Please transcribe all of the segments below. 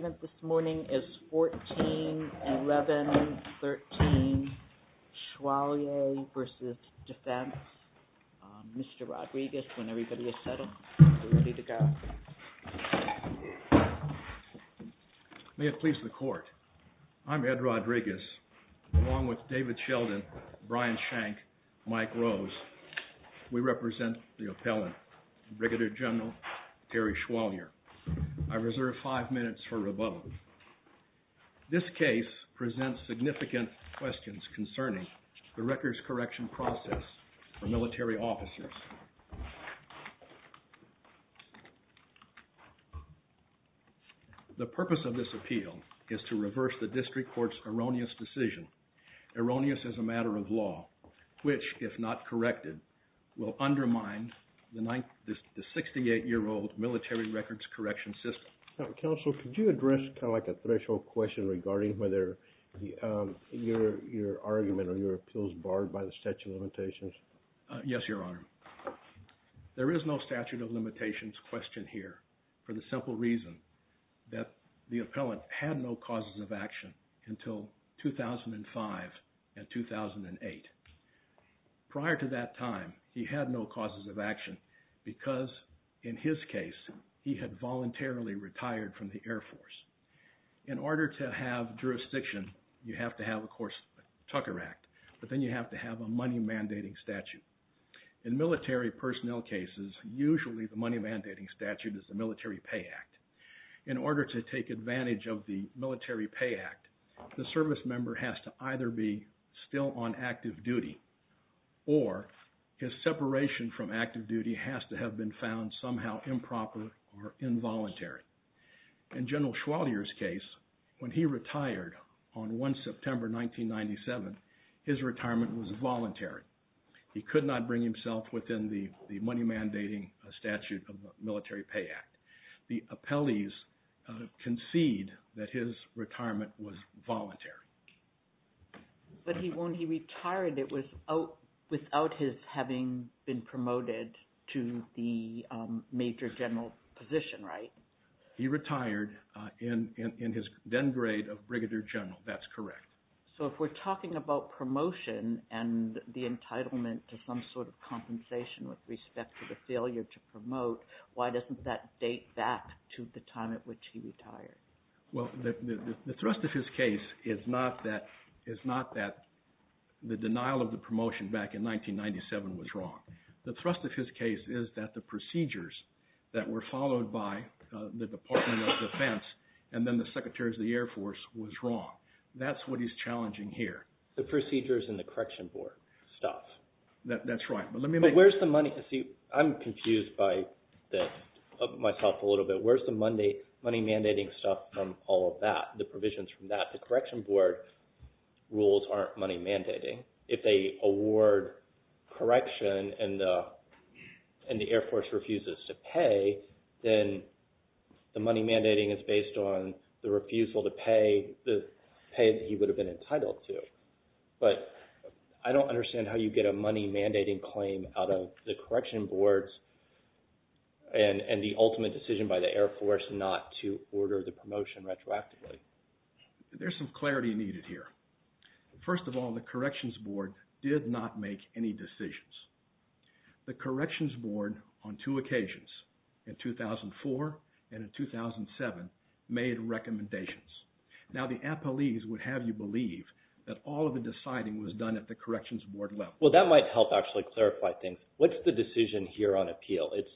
May it please the court, I'm Ed Rodriguez along with David Sheldon, Brian Shank, Mike Rose. We represent the appellant, Brigadier General Terry Schwalier. I reserve five minutes for rebuttal. This case presents significant questions concerning the records correction process for military officers. The purpose of this appeal is to reverse the district court's erroneous decision, erroneous as a matter of law, which if not corrected will undermine the 68-year-old military records correction system. Counsel, could you address kind of like a threshold question regarding whether your argument or your appeals barred by the statute of limitations? In order to have jurisdiction, you have to have, of course, the Tucker Act, but then you have to have a money mandating statute. In military personnel cases, usually the money mandating statute is the Military Pay Act. In order to take advantage of the Military Pay Act, the service member has to either be still on active duty or his separation from active duty has to have been found somehow improper or involuntary. In General Schwalier's case, when he retired on 1 September 1997, his retirement was voluntary. He could not bring himself within the money mandating statute of the Military Pay Act. The appellees concede that his retirement was voluntary. But when he retired, it was without his having been promoted to the major general position, right? He retired in his then grade of brigadier general. That's correct. So if we're talking about promotion and the entitlement to some sort of compensation with respect to the failure to promote, why doesn't that date back to the time at which he retired? Well, the thrust of his case is not that the denial of the promotion back in 1997 was wrong. The thrust of his case is that the procedures that were followed by the Department of Defense and then the Secretaries of the Air Force was wrong. That's what he's challenging here. The procedures in the correction board stops. That's right. I'm confused by this, myself a little bit. Where's the money mandating stuff from all of that, the provisions from that? The correction board rules aren't money mandating. If they award correction and the Air Force refuses to pay, then the money mandating is based on the refusal to pay the pay that he would have been entitled to. But I don't understand how you get a money mandating claim out of the correction boards and the ultimate decision by the Air Force not to order the promotion retroactively. There's some clarity needed here. First of all, the corrections board did not make any decisions. The corrections board on two occasions, in 2004 and in 2007, made recommendations. Now, the appellees would have you believe that all of the deciding was done at the corrections board level. Well, that might help actually clarify things. What's the decision here on appeal? It's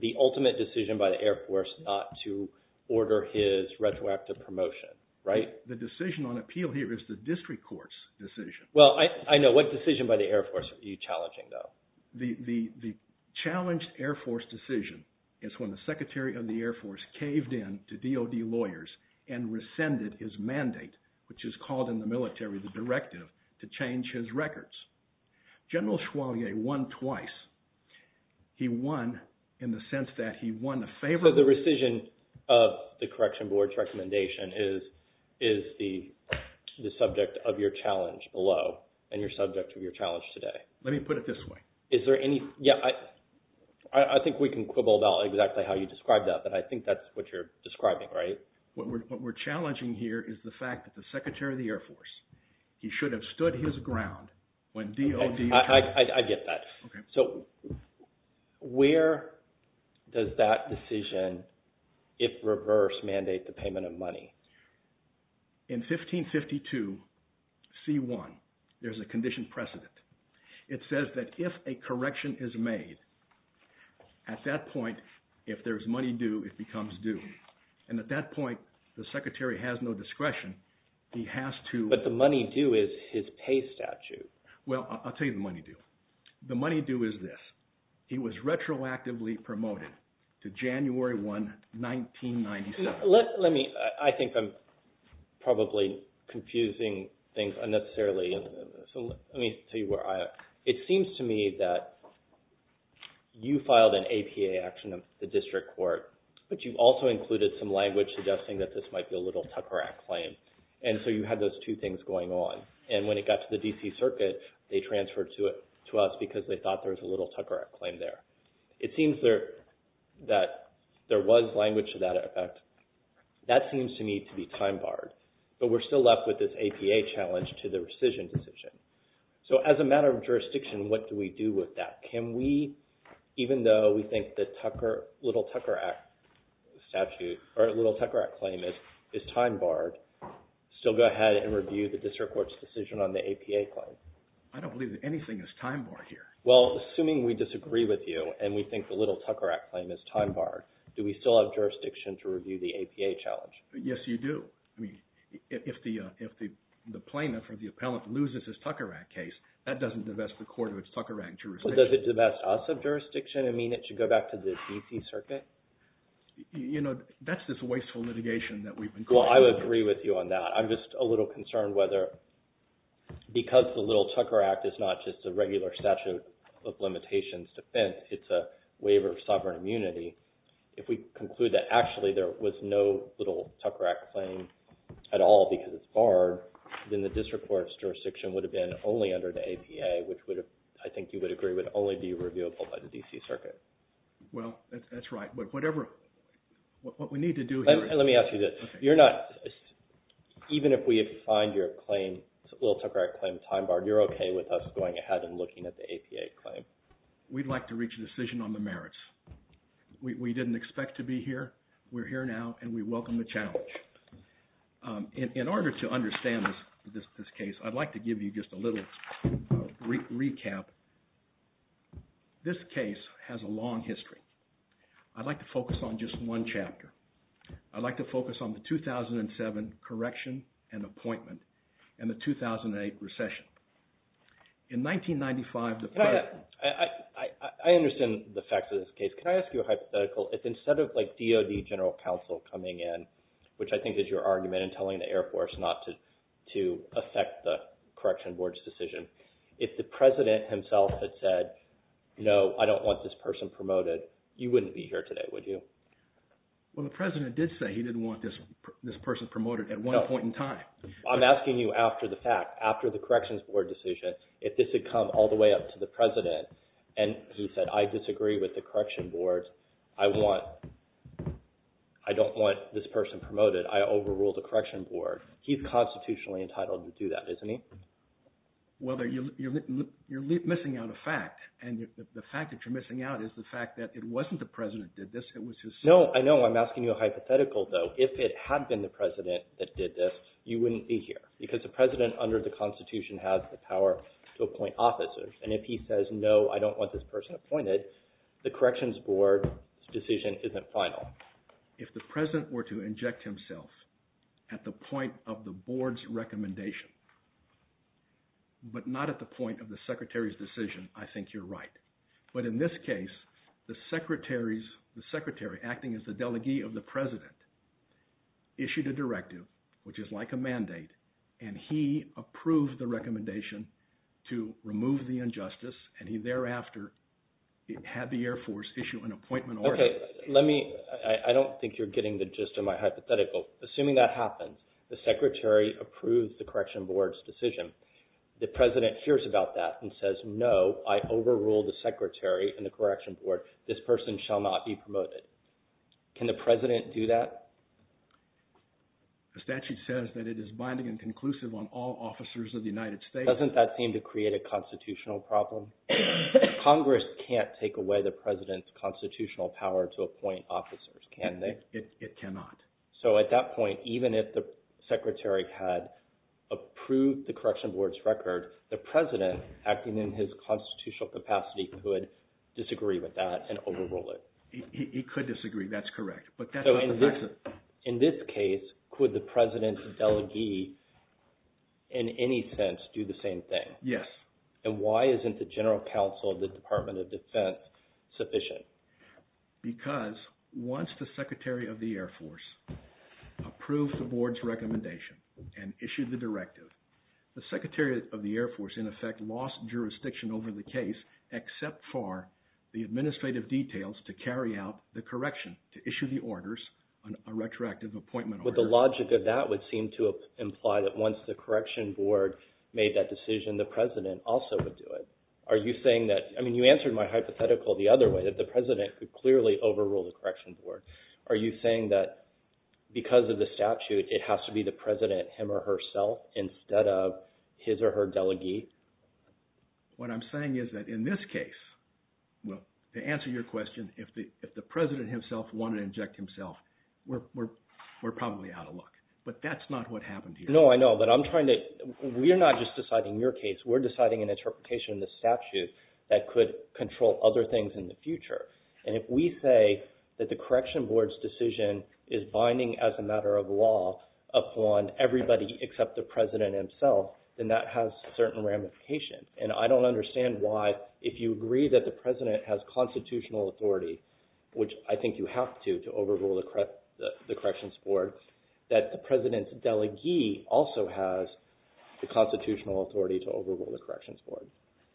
the ultimate decision by the Air Force not to order his retroactive promotion, right? The decision on appeal here is the district court's decision. Well, I know. What decision by the Air Force are you challenging though? The challenged Air Force decision is when the secretary of the Air Force caved in to DOD lawyers and rescinded his mandate, which is called in the military the directive, to change his records. General Chevalier won twice. He won in the sense that he won in favor of – So the rescission of the corrections board's recommendation is the subject of your challenge below and your subject of your challenge today. Let me put it this way. Is there any – yeah, I think we can quibble about exactly how you described that, but I think that's what you're describing, right? What we're challenging here is the fact that the secretary of the Air Force, he should have stood his ground when DOD – I get that. So where does that decision, if reversed, mandate the payment of money? In 1552, C1, there's a condition precedent. It says that if a correction is made, at that point, if there's money due, it becomes due. And at that point, the secretary has no discretion. He has to – But the money due is his pay statute. Well, I'll tell you the money due. The money due is this. He was retroactively promoted to January 1, 1997. Let me – I think I'm probably confusing things unnecessarily. So let me tell you where I am. It seems to me that you filed an APA action of the district court, but you also included some language suggesting that this might be a little tucker act claim. And so you had those two things going on. And when it got to the D.C. Circuit, they transferred to us because they thought there was a little tucker act claim there. It seems that there was language to that effect. That seems to me to be time barred. But we're still left with this APA challenge to the rescission decision. So as a matter of jurisdiction, what do we do with that? Can we, even though we think the little tucker act claim is time barred, still go ahead and review the district court's decision on the APA claim? I don't believe that anything is time barred here. Well, assuming we disagree with you and we think the little tucker act claim is time barred, do we still have jurisdiction to review the APA challenge? Yes, you do. I mean, if the plaintiff or the appellant loses his tucker act case, that doesn't divest the court of its tucker act jurisdiction. But does it divest us of jurisdiction and mean it should go back to the D.C. Circuit? You know, that's this wasteful litigation that we've been caught up in. Well, I would agree with you on that. I'm just a little concerned whether because the little tucker act is not just a regular statute of limitations defense, it's a waiver of sovereign immunity. If we conclude that actually there was no little tucker act claim at all because it's barred, then the district court's jurisdiction would have been only under the APA, which I think you would agree would only be reviewable by the D.C. Circuit. Well, that's right. But whatever – what we need to do here – Let me ask you this. You're not – even if we find your claim – little tucker act claim time barred, you're okay with us going ahead and looking at the APA claim? We'd like to reach a decision on the merits. We didn't expect to be here. We're here now, and we welcome the challenge. In order to understand this case, I'd like to give you just a little recap. This case has a long history. I'd like to focus on just one chapter. I'd like to focus on the 2007 correction and appointment and the 2008 recession. In 1995, the president – I understand the facts of this case. Can I ask you a hypothetical? If instead of DOD general counsel coming in, which I think is your argument in telling the Air Force not to affect the correction board's decision, if the president himself had said, no, I don't want this person promoted, you wouldn't be here today, would you? Well, the president did say he didn't want this person promoted at one point in time. I'm asking you after the fact, after the corrections board decision, if this had come all the way up to the president and he said, I disagree with the correction board, I don't want this person promoted, I overrule the correction board, he's constitutionally entitled to do that, isn't he? Well, you're missing out a fact, and the fact that you're missing out is the fact that it wasn't the president that did this. It was his son. No, I know I'm asking you a hypothetical, though. If it had been the president that did this, you wouldn't be here because the president under the Constitution has the power to appoint officers. And if he says, no, I don't want this person appointed, the corrections board's decision isn't final. If the president were to inject himself at the point of the board's recommendation, but not at the point of the secretary's decision, I think you're right. But in this case, the secretary, acting as the delegee of the president, issued a directive, which is like a mandate, and he approved the recommendation to remove the injustice, and he thereafter had the Air Force issue an appointment order. Okay, let me – I don't think you're getting the gist of my hypothetical. Assuming that happens, the secretary approves the corrections board's decision. The president hears about that and says, no, I overrule the secretary and the corrections board. This person shall not be promoted. Can the president do that? The statute says that it is binding and conclusive on all officers of the United States. Doesn't that seem to create a constitutional problem? Congress can't take away the president's constitutional power to appoint officers, can they? It cannot. So at that point, even if the secretary had approved the corrections board's record, the president, acting in his constitutional capacity, could disagree with that and overrule it. He could disagree. That's correct. In this case, could the president's delegee in any sense do the same thing? Yes. And why isn't the general counsel of the Department of Defense sufficient? Because once the secretary of the Air Force approved the board's recommendation and issued the directive, the secretary of the Air Force, in effect, lost jurisdiction over the case, except for the administrative details to carry out the correction to issue the orders, a retroactive appointment order. But the logic of that would seem to imply that once the correction board made that decision, the president also would do it. Are you saying that – I mean, you answered my hypothetical the other way, that the president could clearly overrule the corrections board. Are you saying that because of the statute, it has to be the president, him or herself, instead of his or her delegee? What I'm saying is that in this case, well, to answer your question, if the president himself wanted to inject himself, we're probably out of luck. But that's not what happened here. No, I know, but I'm trying to – we're not just deciding your case. We're deciding an interpretation of the statute that could control other things in the future. And if we say that the correction board's decision is binding as a matter of law upon everybody except the president himself, then that has certain ramifications. And I don't understand why, if you agree that the president has constitutional authority, which I think you have to, to overrule the corrections board, that the president's delegee also has the constitutional authority to overrule the corrections board.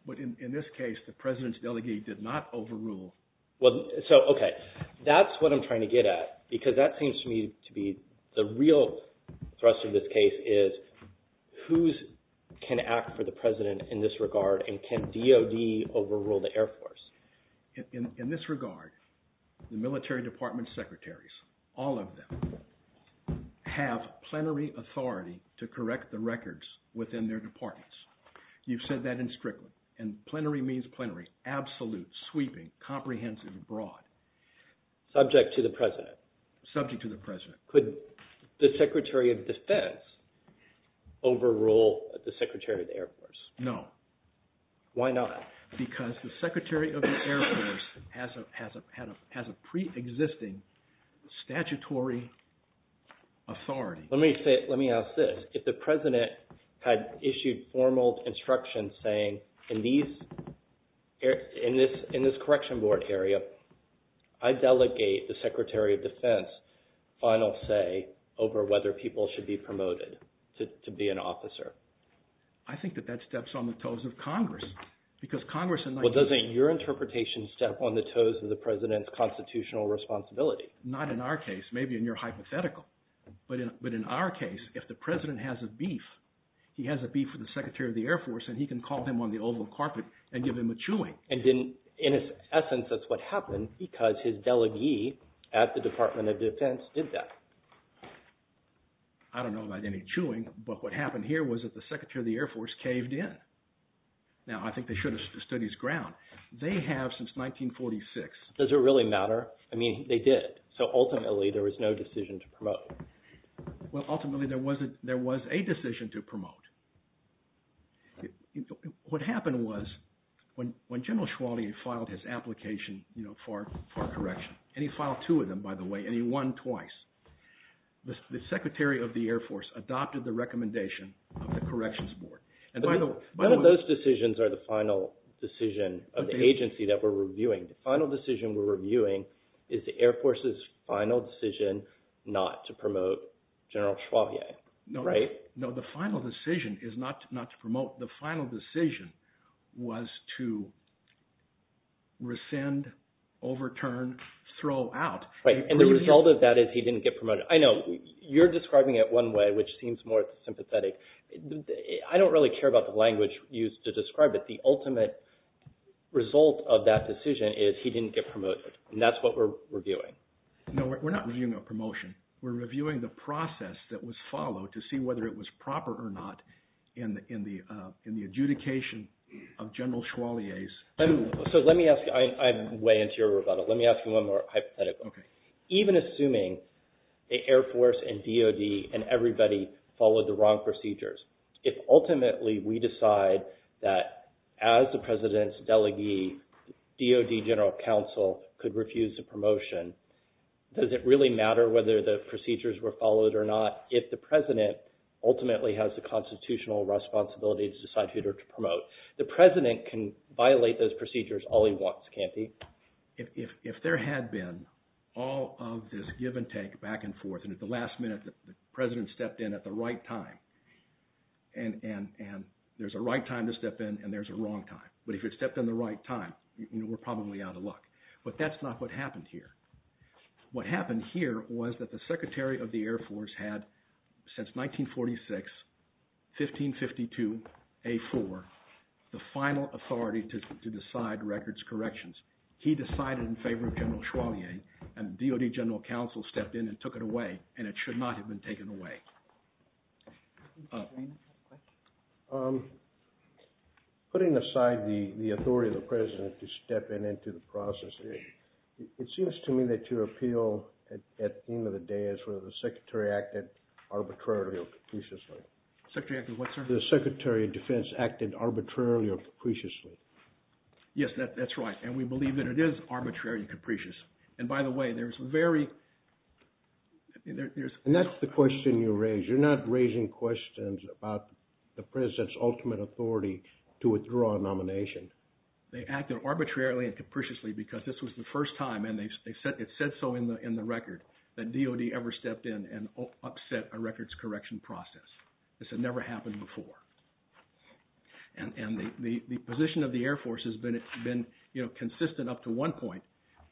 But in this case, the president's delegee did not overrule – Well, so, okay, that's what I'm trying to get at because that seems to me to be the real thrust of this case is who can act for the president in this regard and can DOD overrule the Air Force. In this regard, the military department secretaries, all of them, have plenary authority to correct the records within their departments. You've said that in Strickland, and plenary means plenary, absolute, sweeping, comprehensive, broad. Subject to the president. Subject to the president. Could the secretary of defense overrule the secretary of the Air Force? No. Why not? Because the secretary of the Air Force has a pre-existing statutory authority. Let me ask this. If the president had issued formal instructions saying, in this correction board area, I delegate the secretary of defense final say over whether people should be promoted to be an officer. I think that that steps on the toes of Congress. Well, doesn't your interpretation step on the toes of the president's constitutional responsibility? Not in our case. Maybe in your hypothetical. But in our case, if the president has a beef, he has a beef with the secretary of the Air Force, and he can call him on the oval carpet and give him a chewing. And in essence, that's what happened because his delegee at the department of defense did that. I don't know about any chewing, but what happened here was that the secretary of the Air Force caved in. Now, I think they should have stood his ground. They have since 1946. Does it really matter? I mean, they did. So ultimately, there was no decision to promote. Well, ultimately, there was a decision to promote. What happened was when General Chauvier filed his application for a correction, and he filed two of them, by the way, and he won twice, the secretary of the Air Force adopted the recommendation of the corrections board. None of those decisions are the final decision of the agency that we're reviewing. The final decision we're reviewing is the Air Force's final decision not to promote General Chauvier, right? No, the final decision is not to promote. The final decision was to rescind, overturn, throw out. Right, and the result of that is he didn't get promoted. I know you're describing it one way, which seems more sympathetic. I don't really care about the language used to describe it. The ultimate result of that decision is he didn't get promoted, and that's what we're reviewing. No, we're not reviewing a promotion. We're reviewing the process that was followed to see whether it was proper or not in the adjudication of General Chauvier's. So, let me ask you. I'm way into your rebuttal. Let me ask you one more hypothetical. Okay. Does it really matter whether the procedures were followed or not if the president ultimately has the constitutional responsibility to decide who to promote? The president can violate those procedures all he wants, can't he? If there had been all of this give and take back and forth, and at the last minute the president stepped in at the right time, and there's a right time to step in, and there's a wrong time. But if it stepped in the right time, we're probably out of luck. But that's not what happened here. What happened here was that the Secretary of the Air Force had, since 1946, 1552A4, the final authority to decide records corrections. He decided in favor of General Chauvier, and the DOD General Counsel stepped in and took it away, and it should not have been taken away. Putting aside the authority of the president to step in into the process, it seems to me that your appeal at the end of the day is whether the Secretary acted arbitrarily or capriciously. Secretary acted what, sir? The Secretary of Defense acted arbitrarily or capriciously. Yes, that's right. And we believe that it is arbitrarily capricious. And that's the question you raised. You're not raising questions about the president's ultimate authority to withdraw a nomination. They acted arbitrarily and capriciously because this was the first time, and it's said so in the record, that DOD ever stepped in and upset a records correction process. This had never happened before. And the position of the Air Force has been consistent up to one point,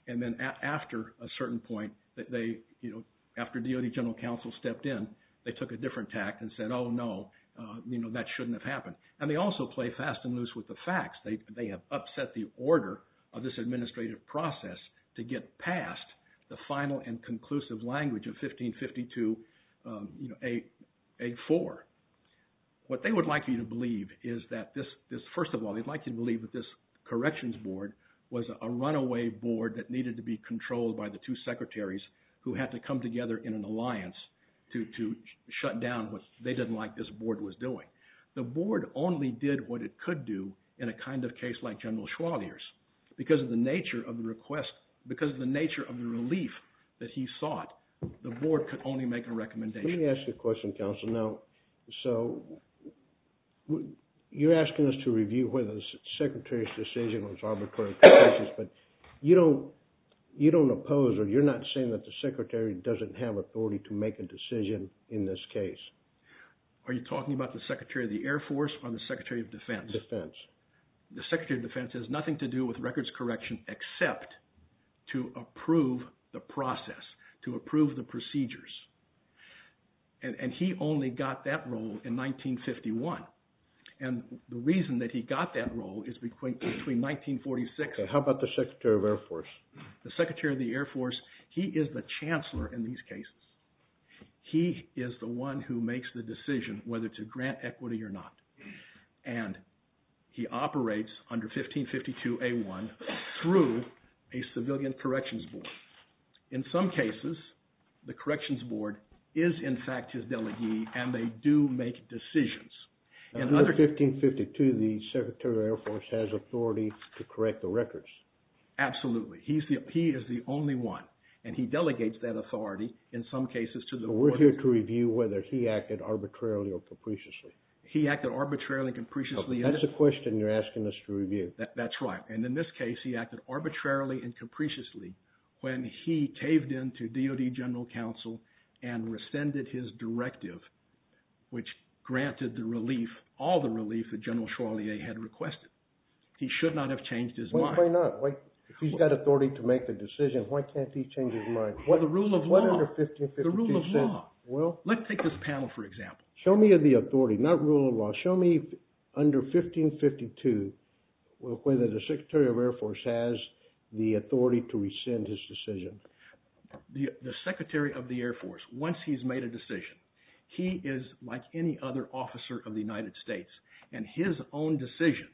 and then after a certain point, after DOD General Counsel stepped in, they took a different tact and said, oh no, that shouldn't have happened. And they also play fast and loose with the facts. They have upset the order of this administrative process to get past the final and conclusive language of 1552A4. What they would like you to believe is that this – first of all, they'd like you to believe that this corrections board was a runaway board that needed to be controlled by the two secretaries who had to come together in an alliance to shut down what they didn't like this board was doing. The board only did what it could do in a kind of case like General Schwalier's. Because of the nature of the request – because of the nature of the relief that he sought, the board could only make a recommendation. Let me ask you a question, counsel. Now, so you're asking us to review whether the secretary's decision was arbitrary or precocious, but you don't oppose or you're not saying that the secretary doesn't have authority to make a decision in this case. Are you talking about the secretary of the Air Force or the secretary of defense? Defense. The secretary of defense has nothing to do with records correction except to approve the process, to approve the procedures. And he only got that role in 1951. And the reason that he got that role is between 1946 and – How about the secretary of Air Force? The secretary of the Air Force, he is the chancellor in these cases. He is the one who makes the decision whether to grant equity or not. And he operates under 1552A1 through a civilian corrections board. In some cases, the corrections board is, in fact, his delegee, and they do make decisions. Under 1552, the secretary of the Air Force has authority to correct the records? Absolutely. He is the only one, and he delegates that authority in some cases to the – But we're here to review whether he acted arbitrarily or capriciously. He acted arbitrarily and capriciously. That's the question you're asking us to review. That's right. And in this case, he acted arbitrarily and capriciously when he caved in to DOD general counsel and rescinded his directive, which granted the relief, all the relief that General Charlier had requested. He should not have changed his mind. Why not? If he's got authority to make the decision, why can't he change his mind? Well, the rule of law. What under 1552 says – The rule of law. Well – Let's take this panel, for example. Show me the authority, not rule of law. Show me under 1552 whether the secretary of the Air Force has the authority to rescind his decision. The secretary of the Air Force, once he's made a decision, he is like any other officer of the United States, and his own decision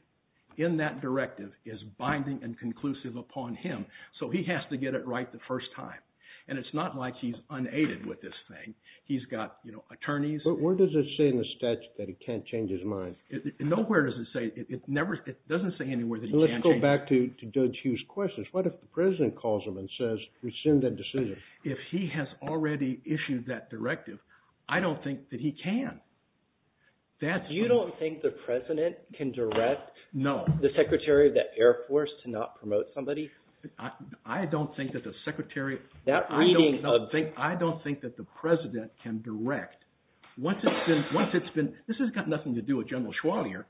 in that directive is binding and conclusive upon him, so he has to get it right the first time. And it's not like he's unaided with this thing. He's got attorneys – Where does it say in the statute that he can't change his mind? Nowhere does it say. It never – it doesn't say anywhere that he can't change his mind. Let's go back to Judge Hughes' questions. What if the president calls him and says, rescind that decision? If he has already issued that directive, I don't think that he can. That's – You don't think the president can direct – No. The secretary of the Air Force to not promote somebody? I don't think that the secretary – That reading of – Once it's been – this has got nothing to do with General Schwalier.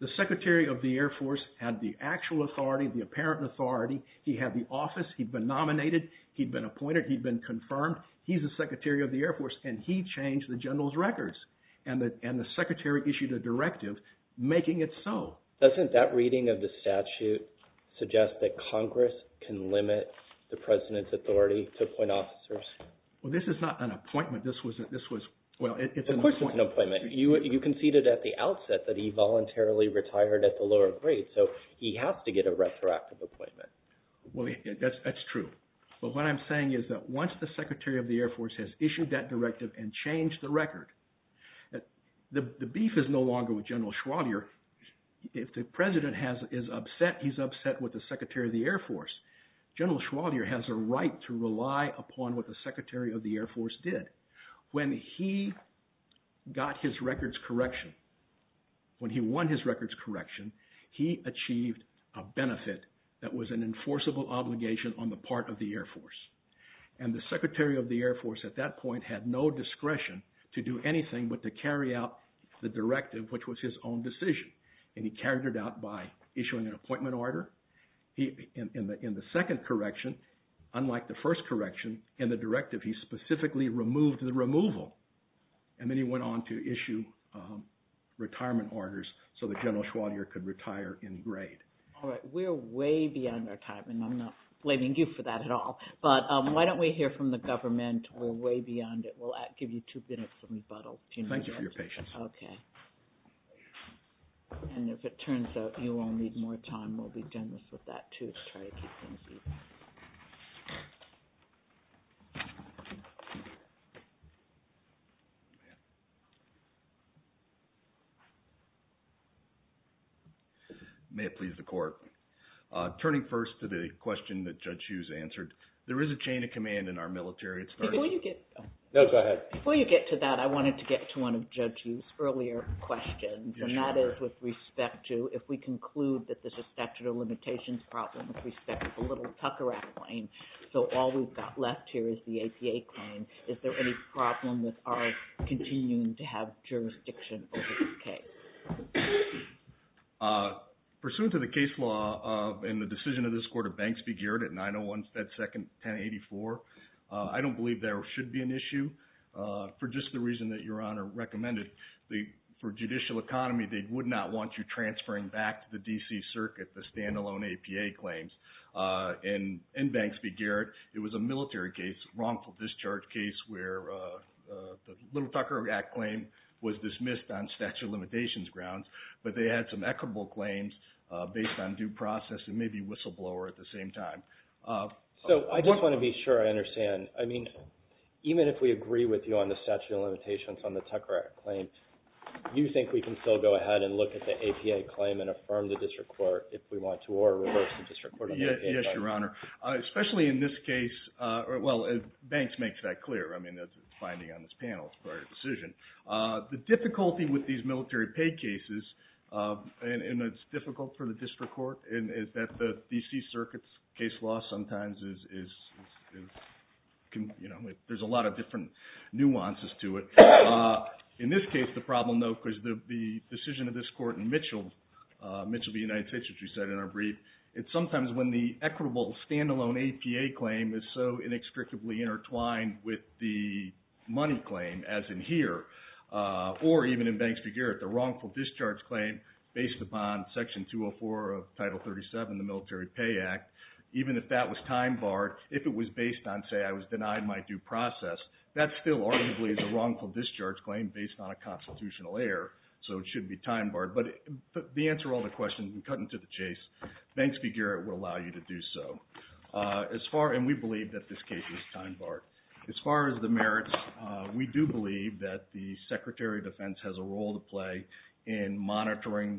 The secretary of the Air Force had the actual authority, the apparent authority. He had the office. He'd been nominated. He'd been appointed. He'd been confirmed. He's the secretary of the Air Force, and he changed the general's records. And the secretary issued a directive making it so. Doesn't that reading of the statute suggest that Congress can limit the president's authority to appoint officers? Well, this is not an appointment. This was – well, it's an appointment. Of course it's an appointment. You conceded at the outset that he voluntarily retired at the lower grade, so he has to get a retroactive appointment. Well, that's true. But what I'm saying is that once the secretary of the Air Force has issued that directive and changed the record, the beef is no longer with General Schwalier. If the president is upset, he's upset with the secretary of the Air Force. General Schwalier has a right to rely upon what the secretary of the Air Force did. When he got his records correction, when he won his records correction, he achieved a benefit that was an enforceable obligation on the part of the Air Force. And the secretary of the Air Force at that point had no discretion to do anything but to carry out the directive, which was his own decision. And he carried it out by issuing an appointment order. In the second correction, unlike the first correction in the directive, he specifically removed the removal. And then he went on to issue retirement orders so that General Schwalier could retire in grade. All right. We're way beyond our time, and I'm not blaming you for that at all. But why don't we hear from the government? We're way beyond it. We'll give you two minutes to rebuttal. Thank you for your patience. Okay. And if it turns out you all need more time, we'll be done with that, too, to try to keep things even. May it please the court. Turning first to the question that Judge Hughes answered, there is a chain of command in our military. Before you get to that, I wanted to get to one of Judge Hughes earlier. And that is with respect to if we conclude that this is a statute of limitations problem with respect to the Little-Tucker Act claim, so all we've got left here is the APA claim. Is there any problem with ours continuing to have jurisdiction over this case? Pursuant to the case law and the decision of this court of banks be geared at 901 Fed Second 1084, for just the reason that Your Honor recommended, for judicial economy, they would not want you transferring back to the D.C. Circuit the standalone APA claims. In banks be geared, it was a military case, wrongful discharge case, where the Little-Tucker Act claim was dismissed on statute of limitations grounds, but they had some equitable claims based on due process and maybe whistleblower at the same time. So I just want to be sure I understand. I mean, even if we agree with you on the statute of limitations on the Tucker Act claim, do you think we can still go ahead and look at the APA claim and affirm the district court if we want to, or reverse the district court on the APA claim? Yes, Your Honor. Especially in this case, well, banks makes that clear. I mean, that's a finding on this panel, it's a prior decision. The difficulty with these military pay cases, and it's difficult for the district court, is that the D.C. Circuit's case law sometimes is, you know, there's a lot of different nuances to it. In this case, the problem, though, because the decision of this court in Mitchell v. United States, which we said in our brief, it's sometimes when the equitable standalone APA claim is so inextricably intertwined with the money claim, as in here, or even in banks be geared, the wrongful discharge claim based upon Section 204 of Title 37 of the Military Pay Act, even if that was time barred, if it was based on, say, I was denied my due process, that still arguably is a wrongful discharge claim based on a constitutional error, so it should be time barred. But to answer all the questions and cut into the chase, banks be geared will allow you to do so. And we believe that this case is time barred. As far as the merits, we do believe that the Secretary of Defense has a role to play in monitoring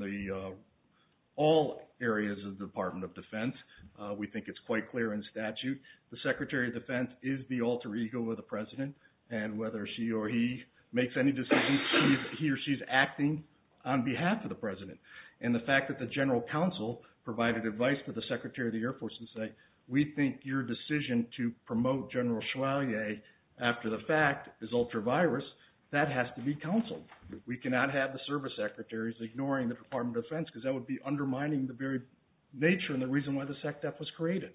all areas of the Department of Defense. We think it's quite clear in statute the Secretary of Defense is the alter ego of the President, and whether she or he makes any decisions, he or she is acting on behalf of the President. And the fact that the General Counsel provided advice to the Secretary of the Air Force to say, we think your decision to promote General Chevalier after the fact is ultra-virus, that has to be counseled. We cannot have the service secretaries ignoring the Department of Defense, because that would be undermining the very nature and the reason why the SECDEF was created.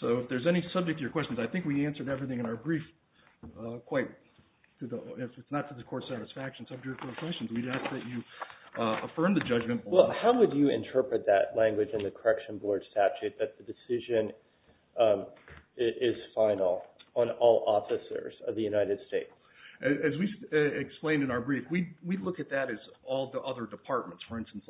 So if there's any subject to your questions, I think we answered everything in our brief. If it's not to the Court's satisfaction, subject to the questions, we'd ask that you affirm the judgment. Well, how would you interpret that language in the correction board statute that the decision is final on all officers of the United States? As we explained in our brief, we look at that as all the other departments. For instance,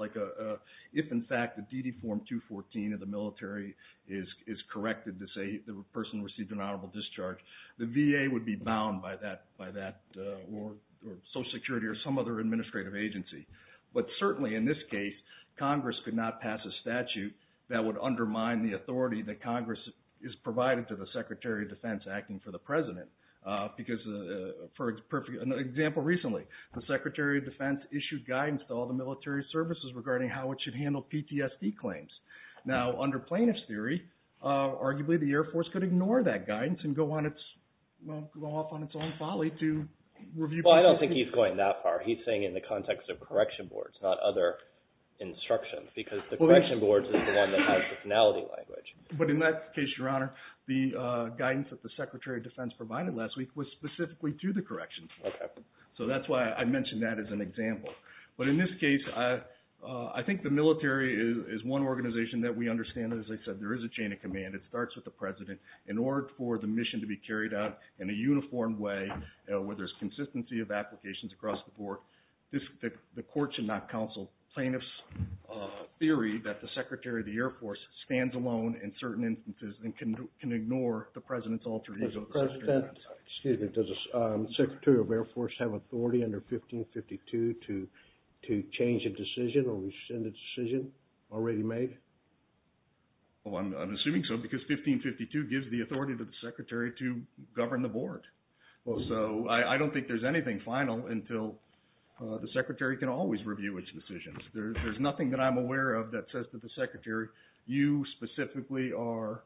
if in fact the DD Form 214 of the military is corrected to say the person received an honorable discharge, the VA would be bound by that, or Social Security, or some other administrative agency. But certainly in this case, Congress could not pass a statute that would undermine the authority that Congress has provided to the Secretary of Defense acting for the President. Because, for example, recently, the Secretary of Defense issued guidance to all the military services regarding how it should handle PTSD claims. Now, under plaintiff's theory, arguably the Air Force could ignore that guidance and go off on its own folly to review… Well, I don't think he's going that far. He's saying in the context of correction boards, not other instructions. Because the correction boards is the one that has the finality language. But in that case, Your Honor, the guidance that the Secretary of Defense provided last week was specifically to the corrections. Okay. So that's why I mentioned that as an example. But in this case, I think the military is one organization that we understand, as I said, there is a chain of command. It starts with the President. In order for the mission to be carried out in a uniform way where there's consistency of applications across the board, the court should not counsel plaintiff's theory that the Secretary of the Air Force stands alone in certain instances and can ignore the President's alter ego. Mr. President, does the Secretary of Air Force have authority under 1552 to change a decision or rescind a decision already made? Well, I'm assuming so because 1552 gives the authority to the Secretary to govern the board. So I don't think there's anything final until the Secretary can always review its decisions. There's nothing that I'm aware of that says to the Secretary, you specifically are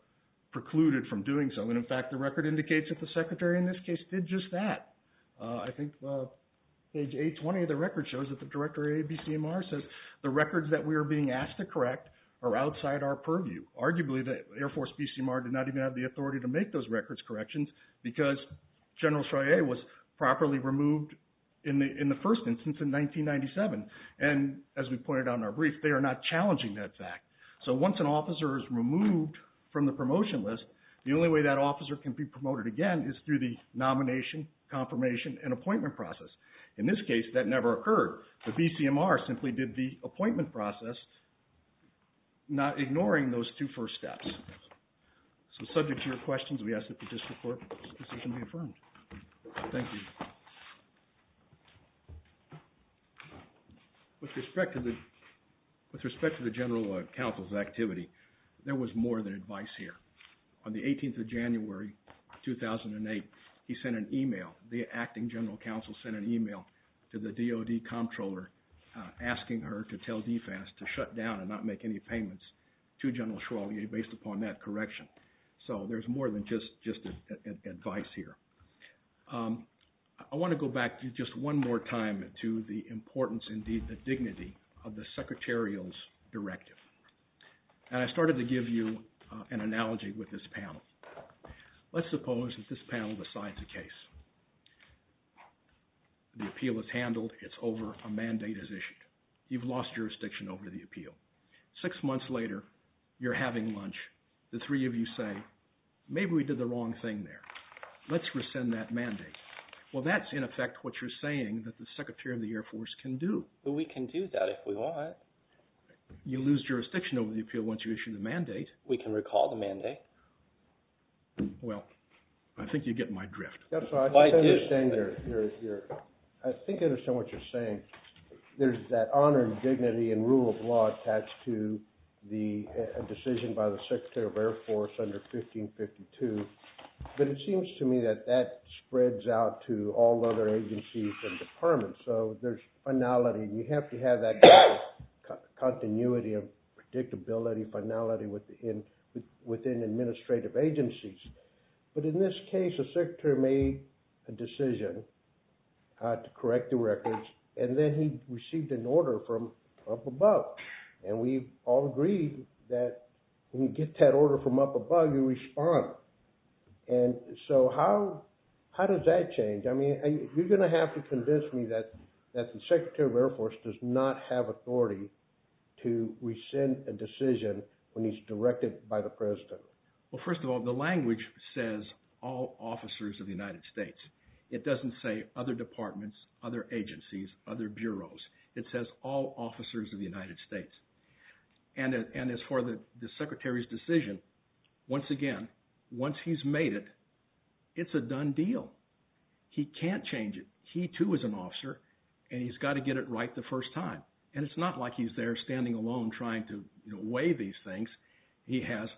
precluded from doing so. And in fact, the record indicates that the Secretary in this case did just that. I think page 820 of the record shows that the Director of ABCMR says the records that we are being asked to correct are outside our purview. Arguably, the Air Force BCMR did not even have the authority to make those records corrections because General Cheyenne was properly removed in the first instance in 1997. And as we pointed out in our brief, they are not challenging that fact. So once an officer is removed from the promotion list, the only way that officer can be promoted again is through the nomination, confirmation, and appointment process. In this case, that never occurred. The BCMR simply did the appointment process, not ignoring those two first steps. So subject to your questions, we ask that the District Court's decision be affirmed. Thank you. With respect to the General Counsel's activity, there was more than advice here. On the 18th of January, 2008, he sent an email. The acting General Counsel sent an email to the DOD comptroller asking her to tell DFAS to shut down and not make any payments to General Schrawley based upon that correction. So there's more than just advice here. I want to go back just one more time to the importance, indeed the dignity, of the secretarial's directive. And I started to give you an analogy with this panel. Let's suppose that this panel decides a case. The appeal is handled. It's over. A mandate is issued. You've lost jurisdiction over the appeal. Six months later, you're having lunch. The three of you say, maybe we did the wrong thing there. Let's rescind that mandate. Well, that's, in effect, what you're saying that the Secretary of the Air Force can do. But we can do that if we want. You lose jurisdiction over the appeal once you issue the mandate. We can recall the mandate. Well, I think you get my drift. I think I understand what you're saying. There's that honor and dignity and rule of law attached to the decision by the Secretary of the Air Force under 1552. But it seems to me that that spreads out to all other agencies and departments. So there's finality. You have to have that continuity of predictability, finality within administrative agencies. But in this case, the Secretary made a decision to correct the records, and then he received an order from up above. And we've all agreed that when you get that order from up above, you respond. And so how does that change? I mean, you're going to have to convince me that the Secretary of the Air Force does not have authority to rescind a decision when he's directed by the President. Well, first of all, the language says all officers of the United States. It doesn't say other departments, other agencies, other bureaus. It says all officers of the United States. And as far as the Secretary's decision, once again, once he's made it, it's a done deal. He can't change it. He too is an officer, and he's got to get it right the first time. And it's not like he's there standing alone trying to weigh these things. He has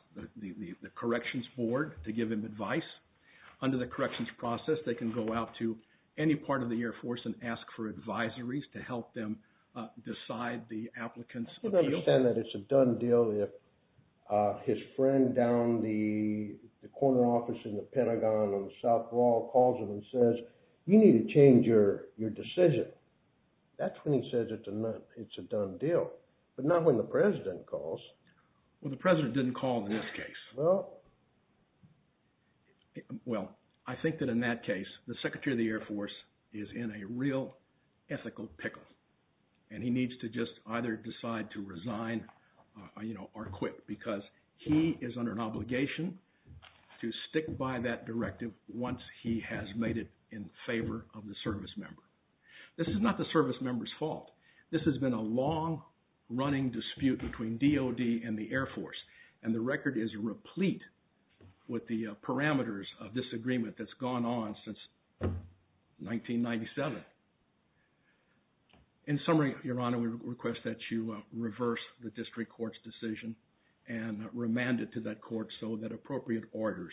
the corrections board to give him advice. Under the corrections process, they can go out to any part of the Air Force and ask for advisories to help them decide the applicants. I don't understand that it's a done deal if his friend down the corner office in the Pentagon on South Law calls him and says, you need to change your decision. That's when he says it's a done deal, but not when the President calls. Well, the President didn't call in this case. Well, I think that in that case, the Secretary of the Air Force is in a real ethical pickle. And he needs to just either decide to resign or quit because he is under an obligation to stick by that directive once he has made it in favor of the service member. This is not the service member's fault. This has been a long-running dispute between DOD and the Air Force, and the record is replete with the parameters of disagreement that's gone on since 1997. In summary, Your Honor, we request that you reverse the district court's decision and remand it to that court so that appropriate orders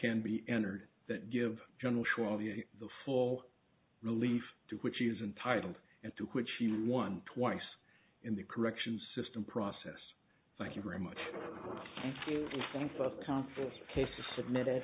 can be entered that give General Cholier the full relief to which he is entitled and to which he won twice in the corrections system process. Thank you very much. Thank you. We thank both counsels. The case is submitted.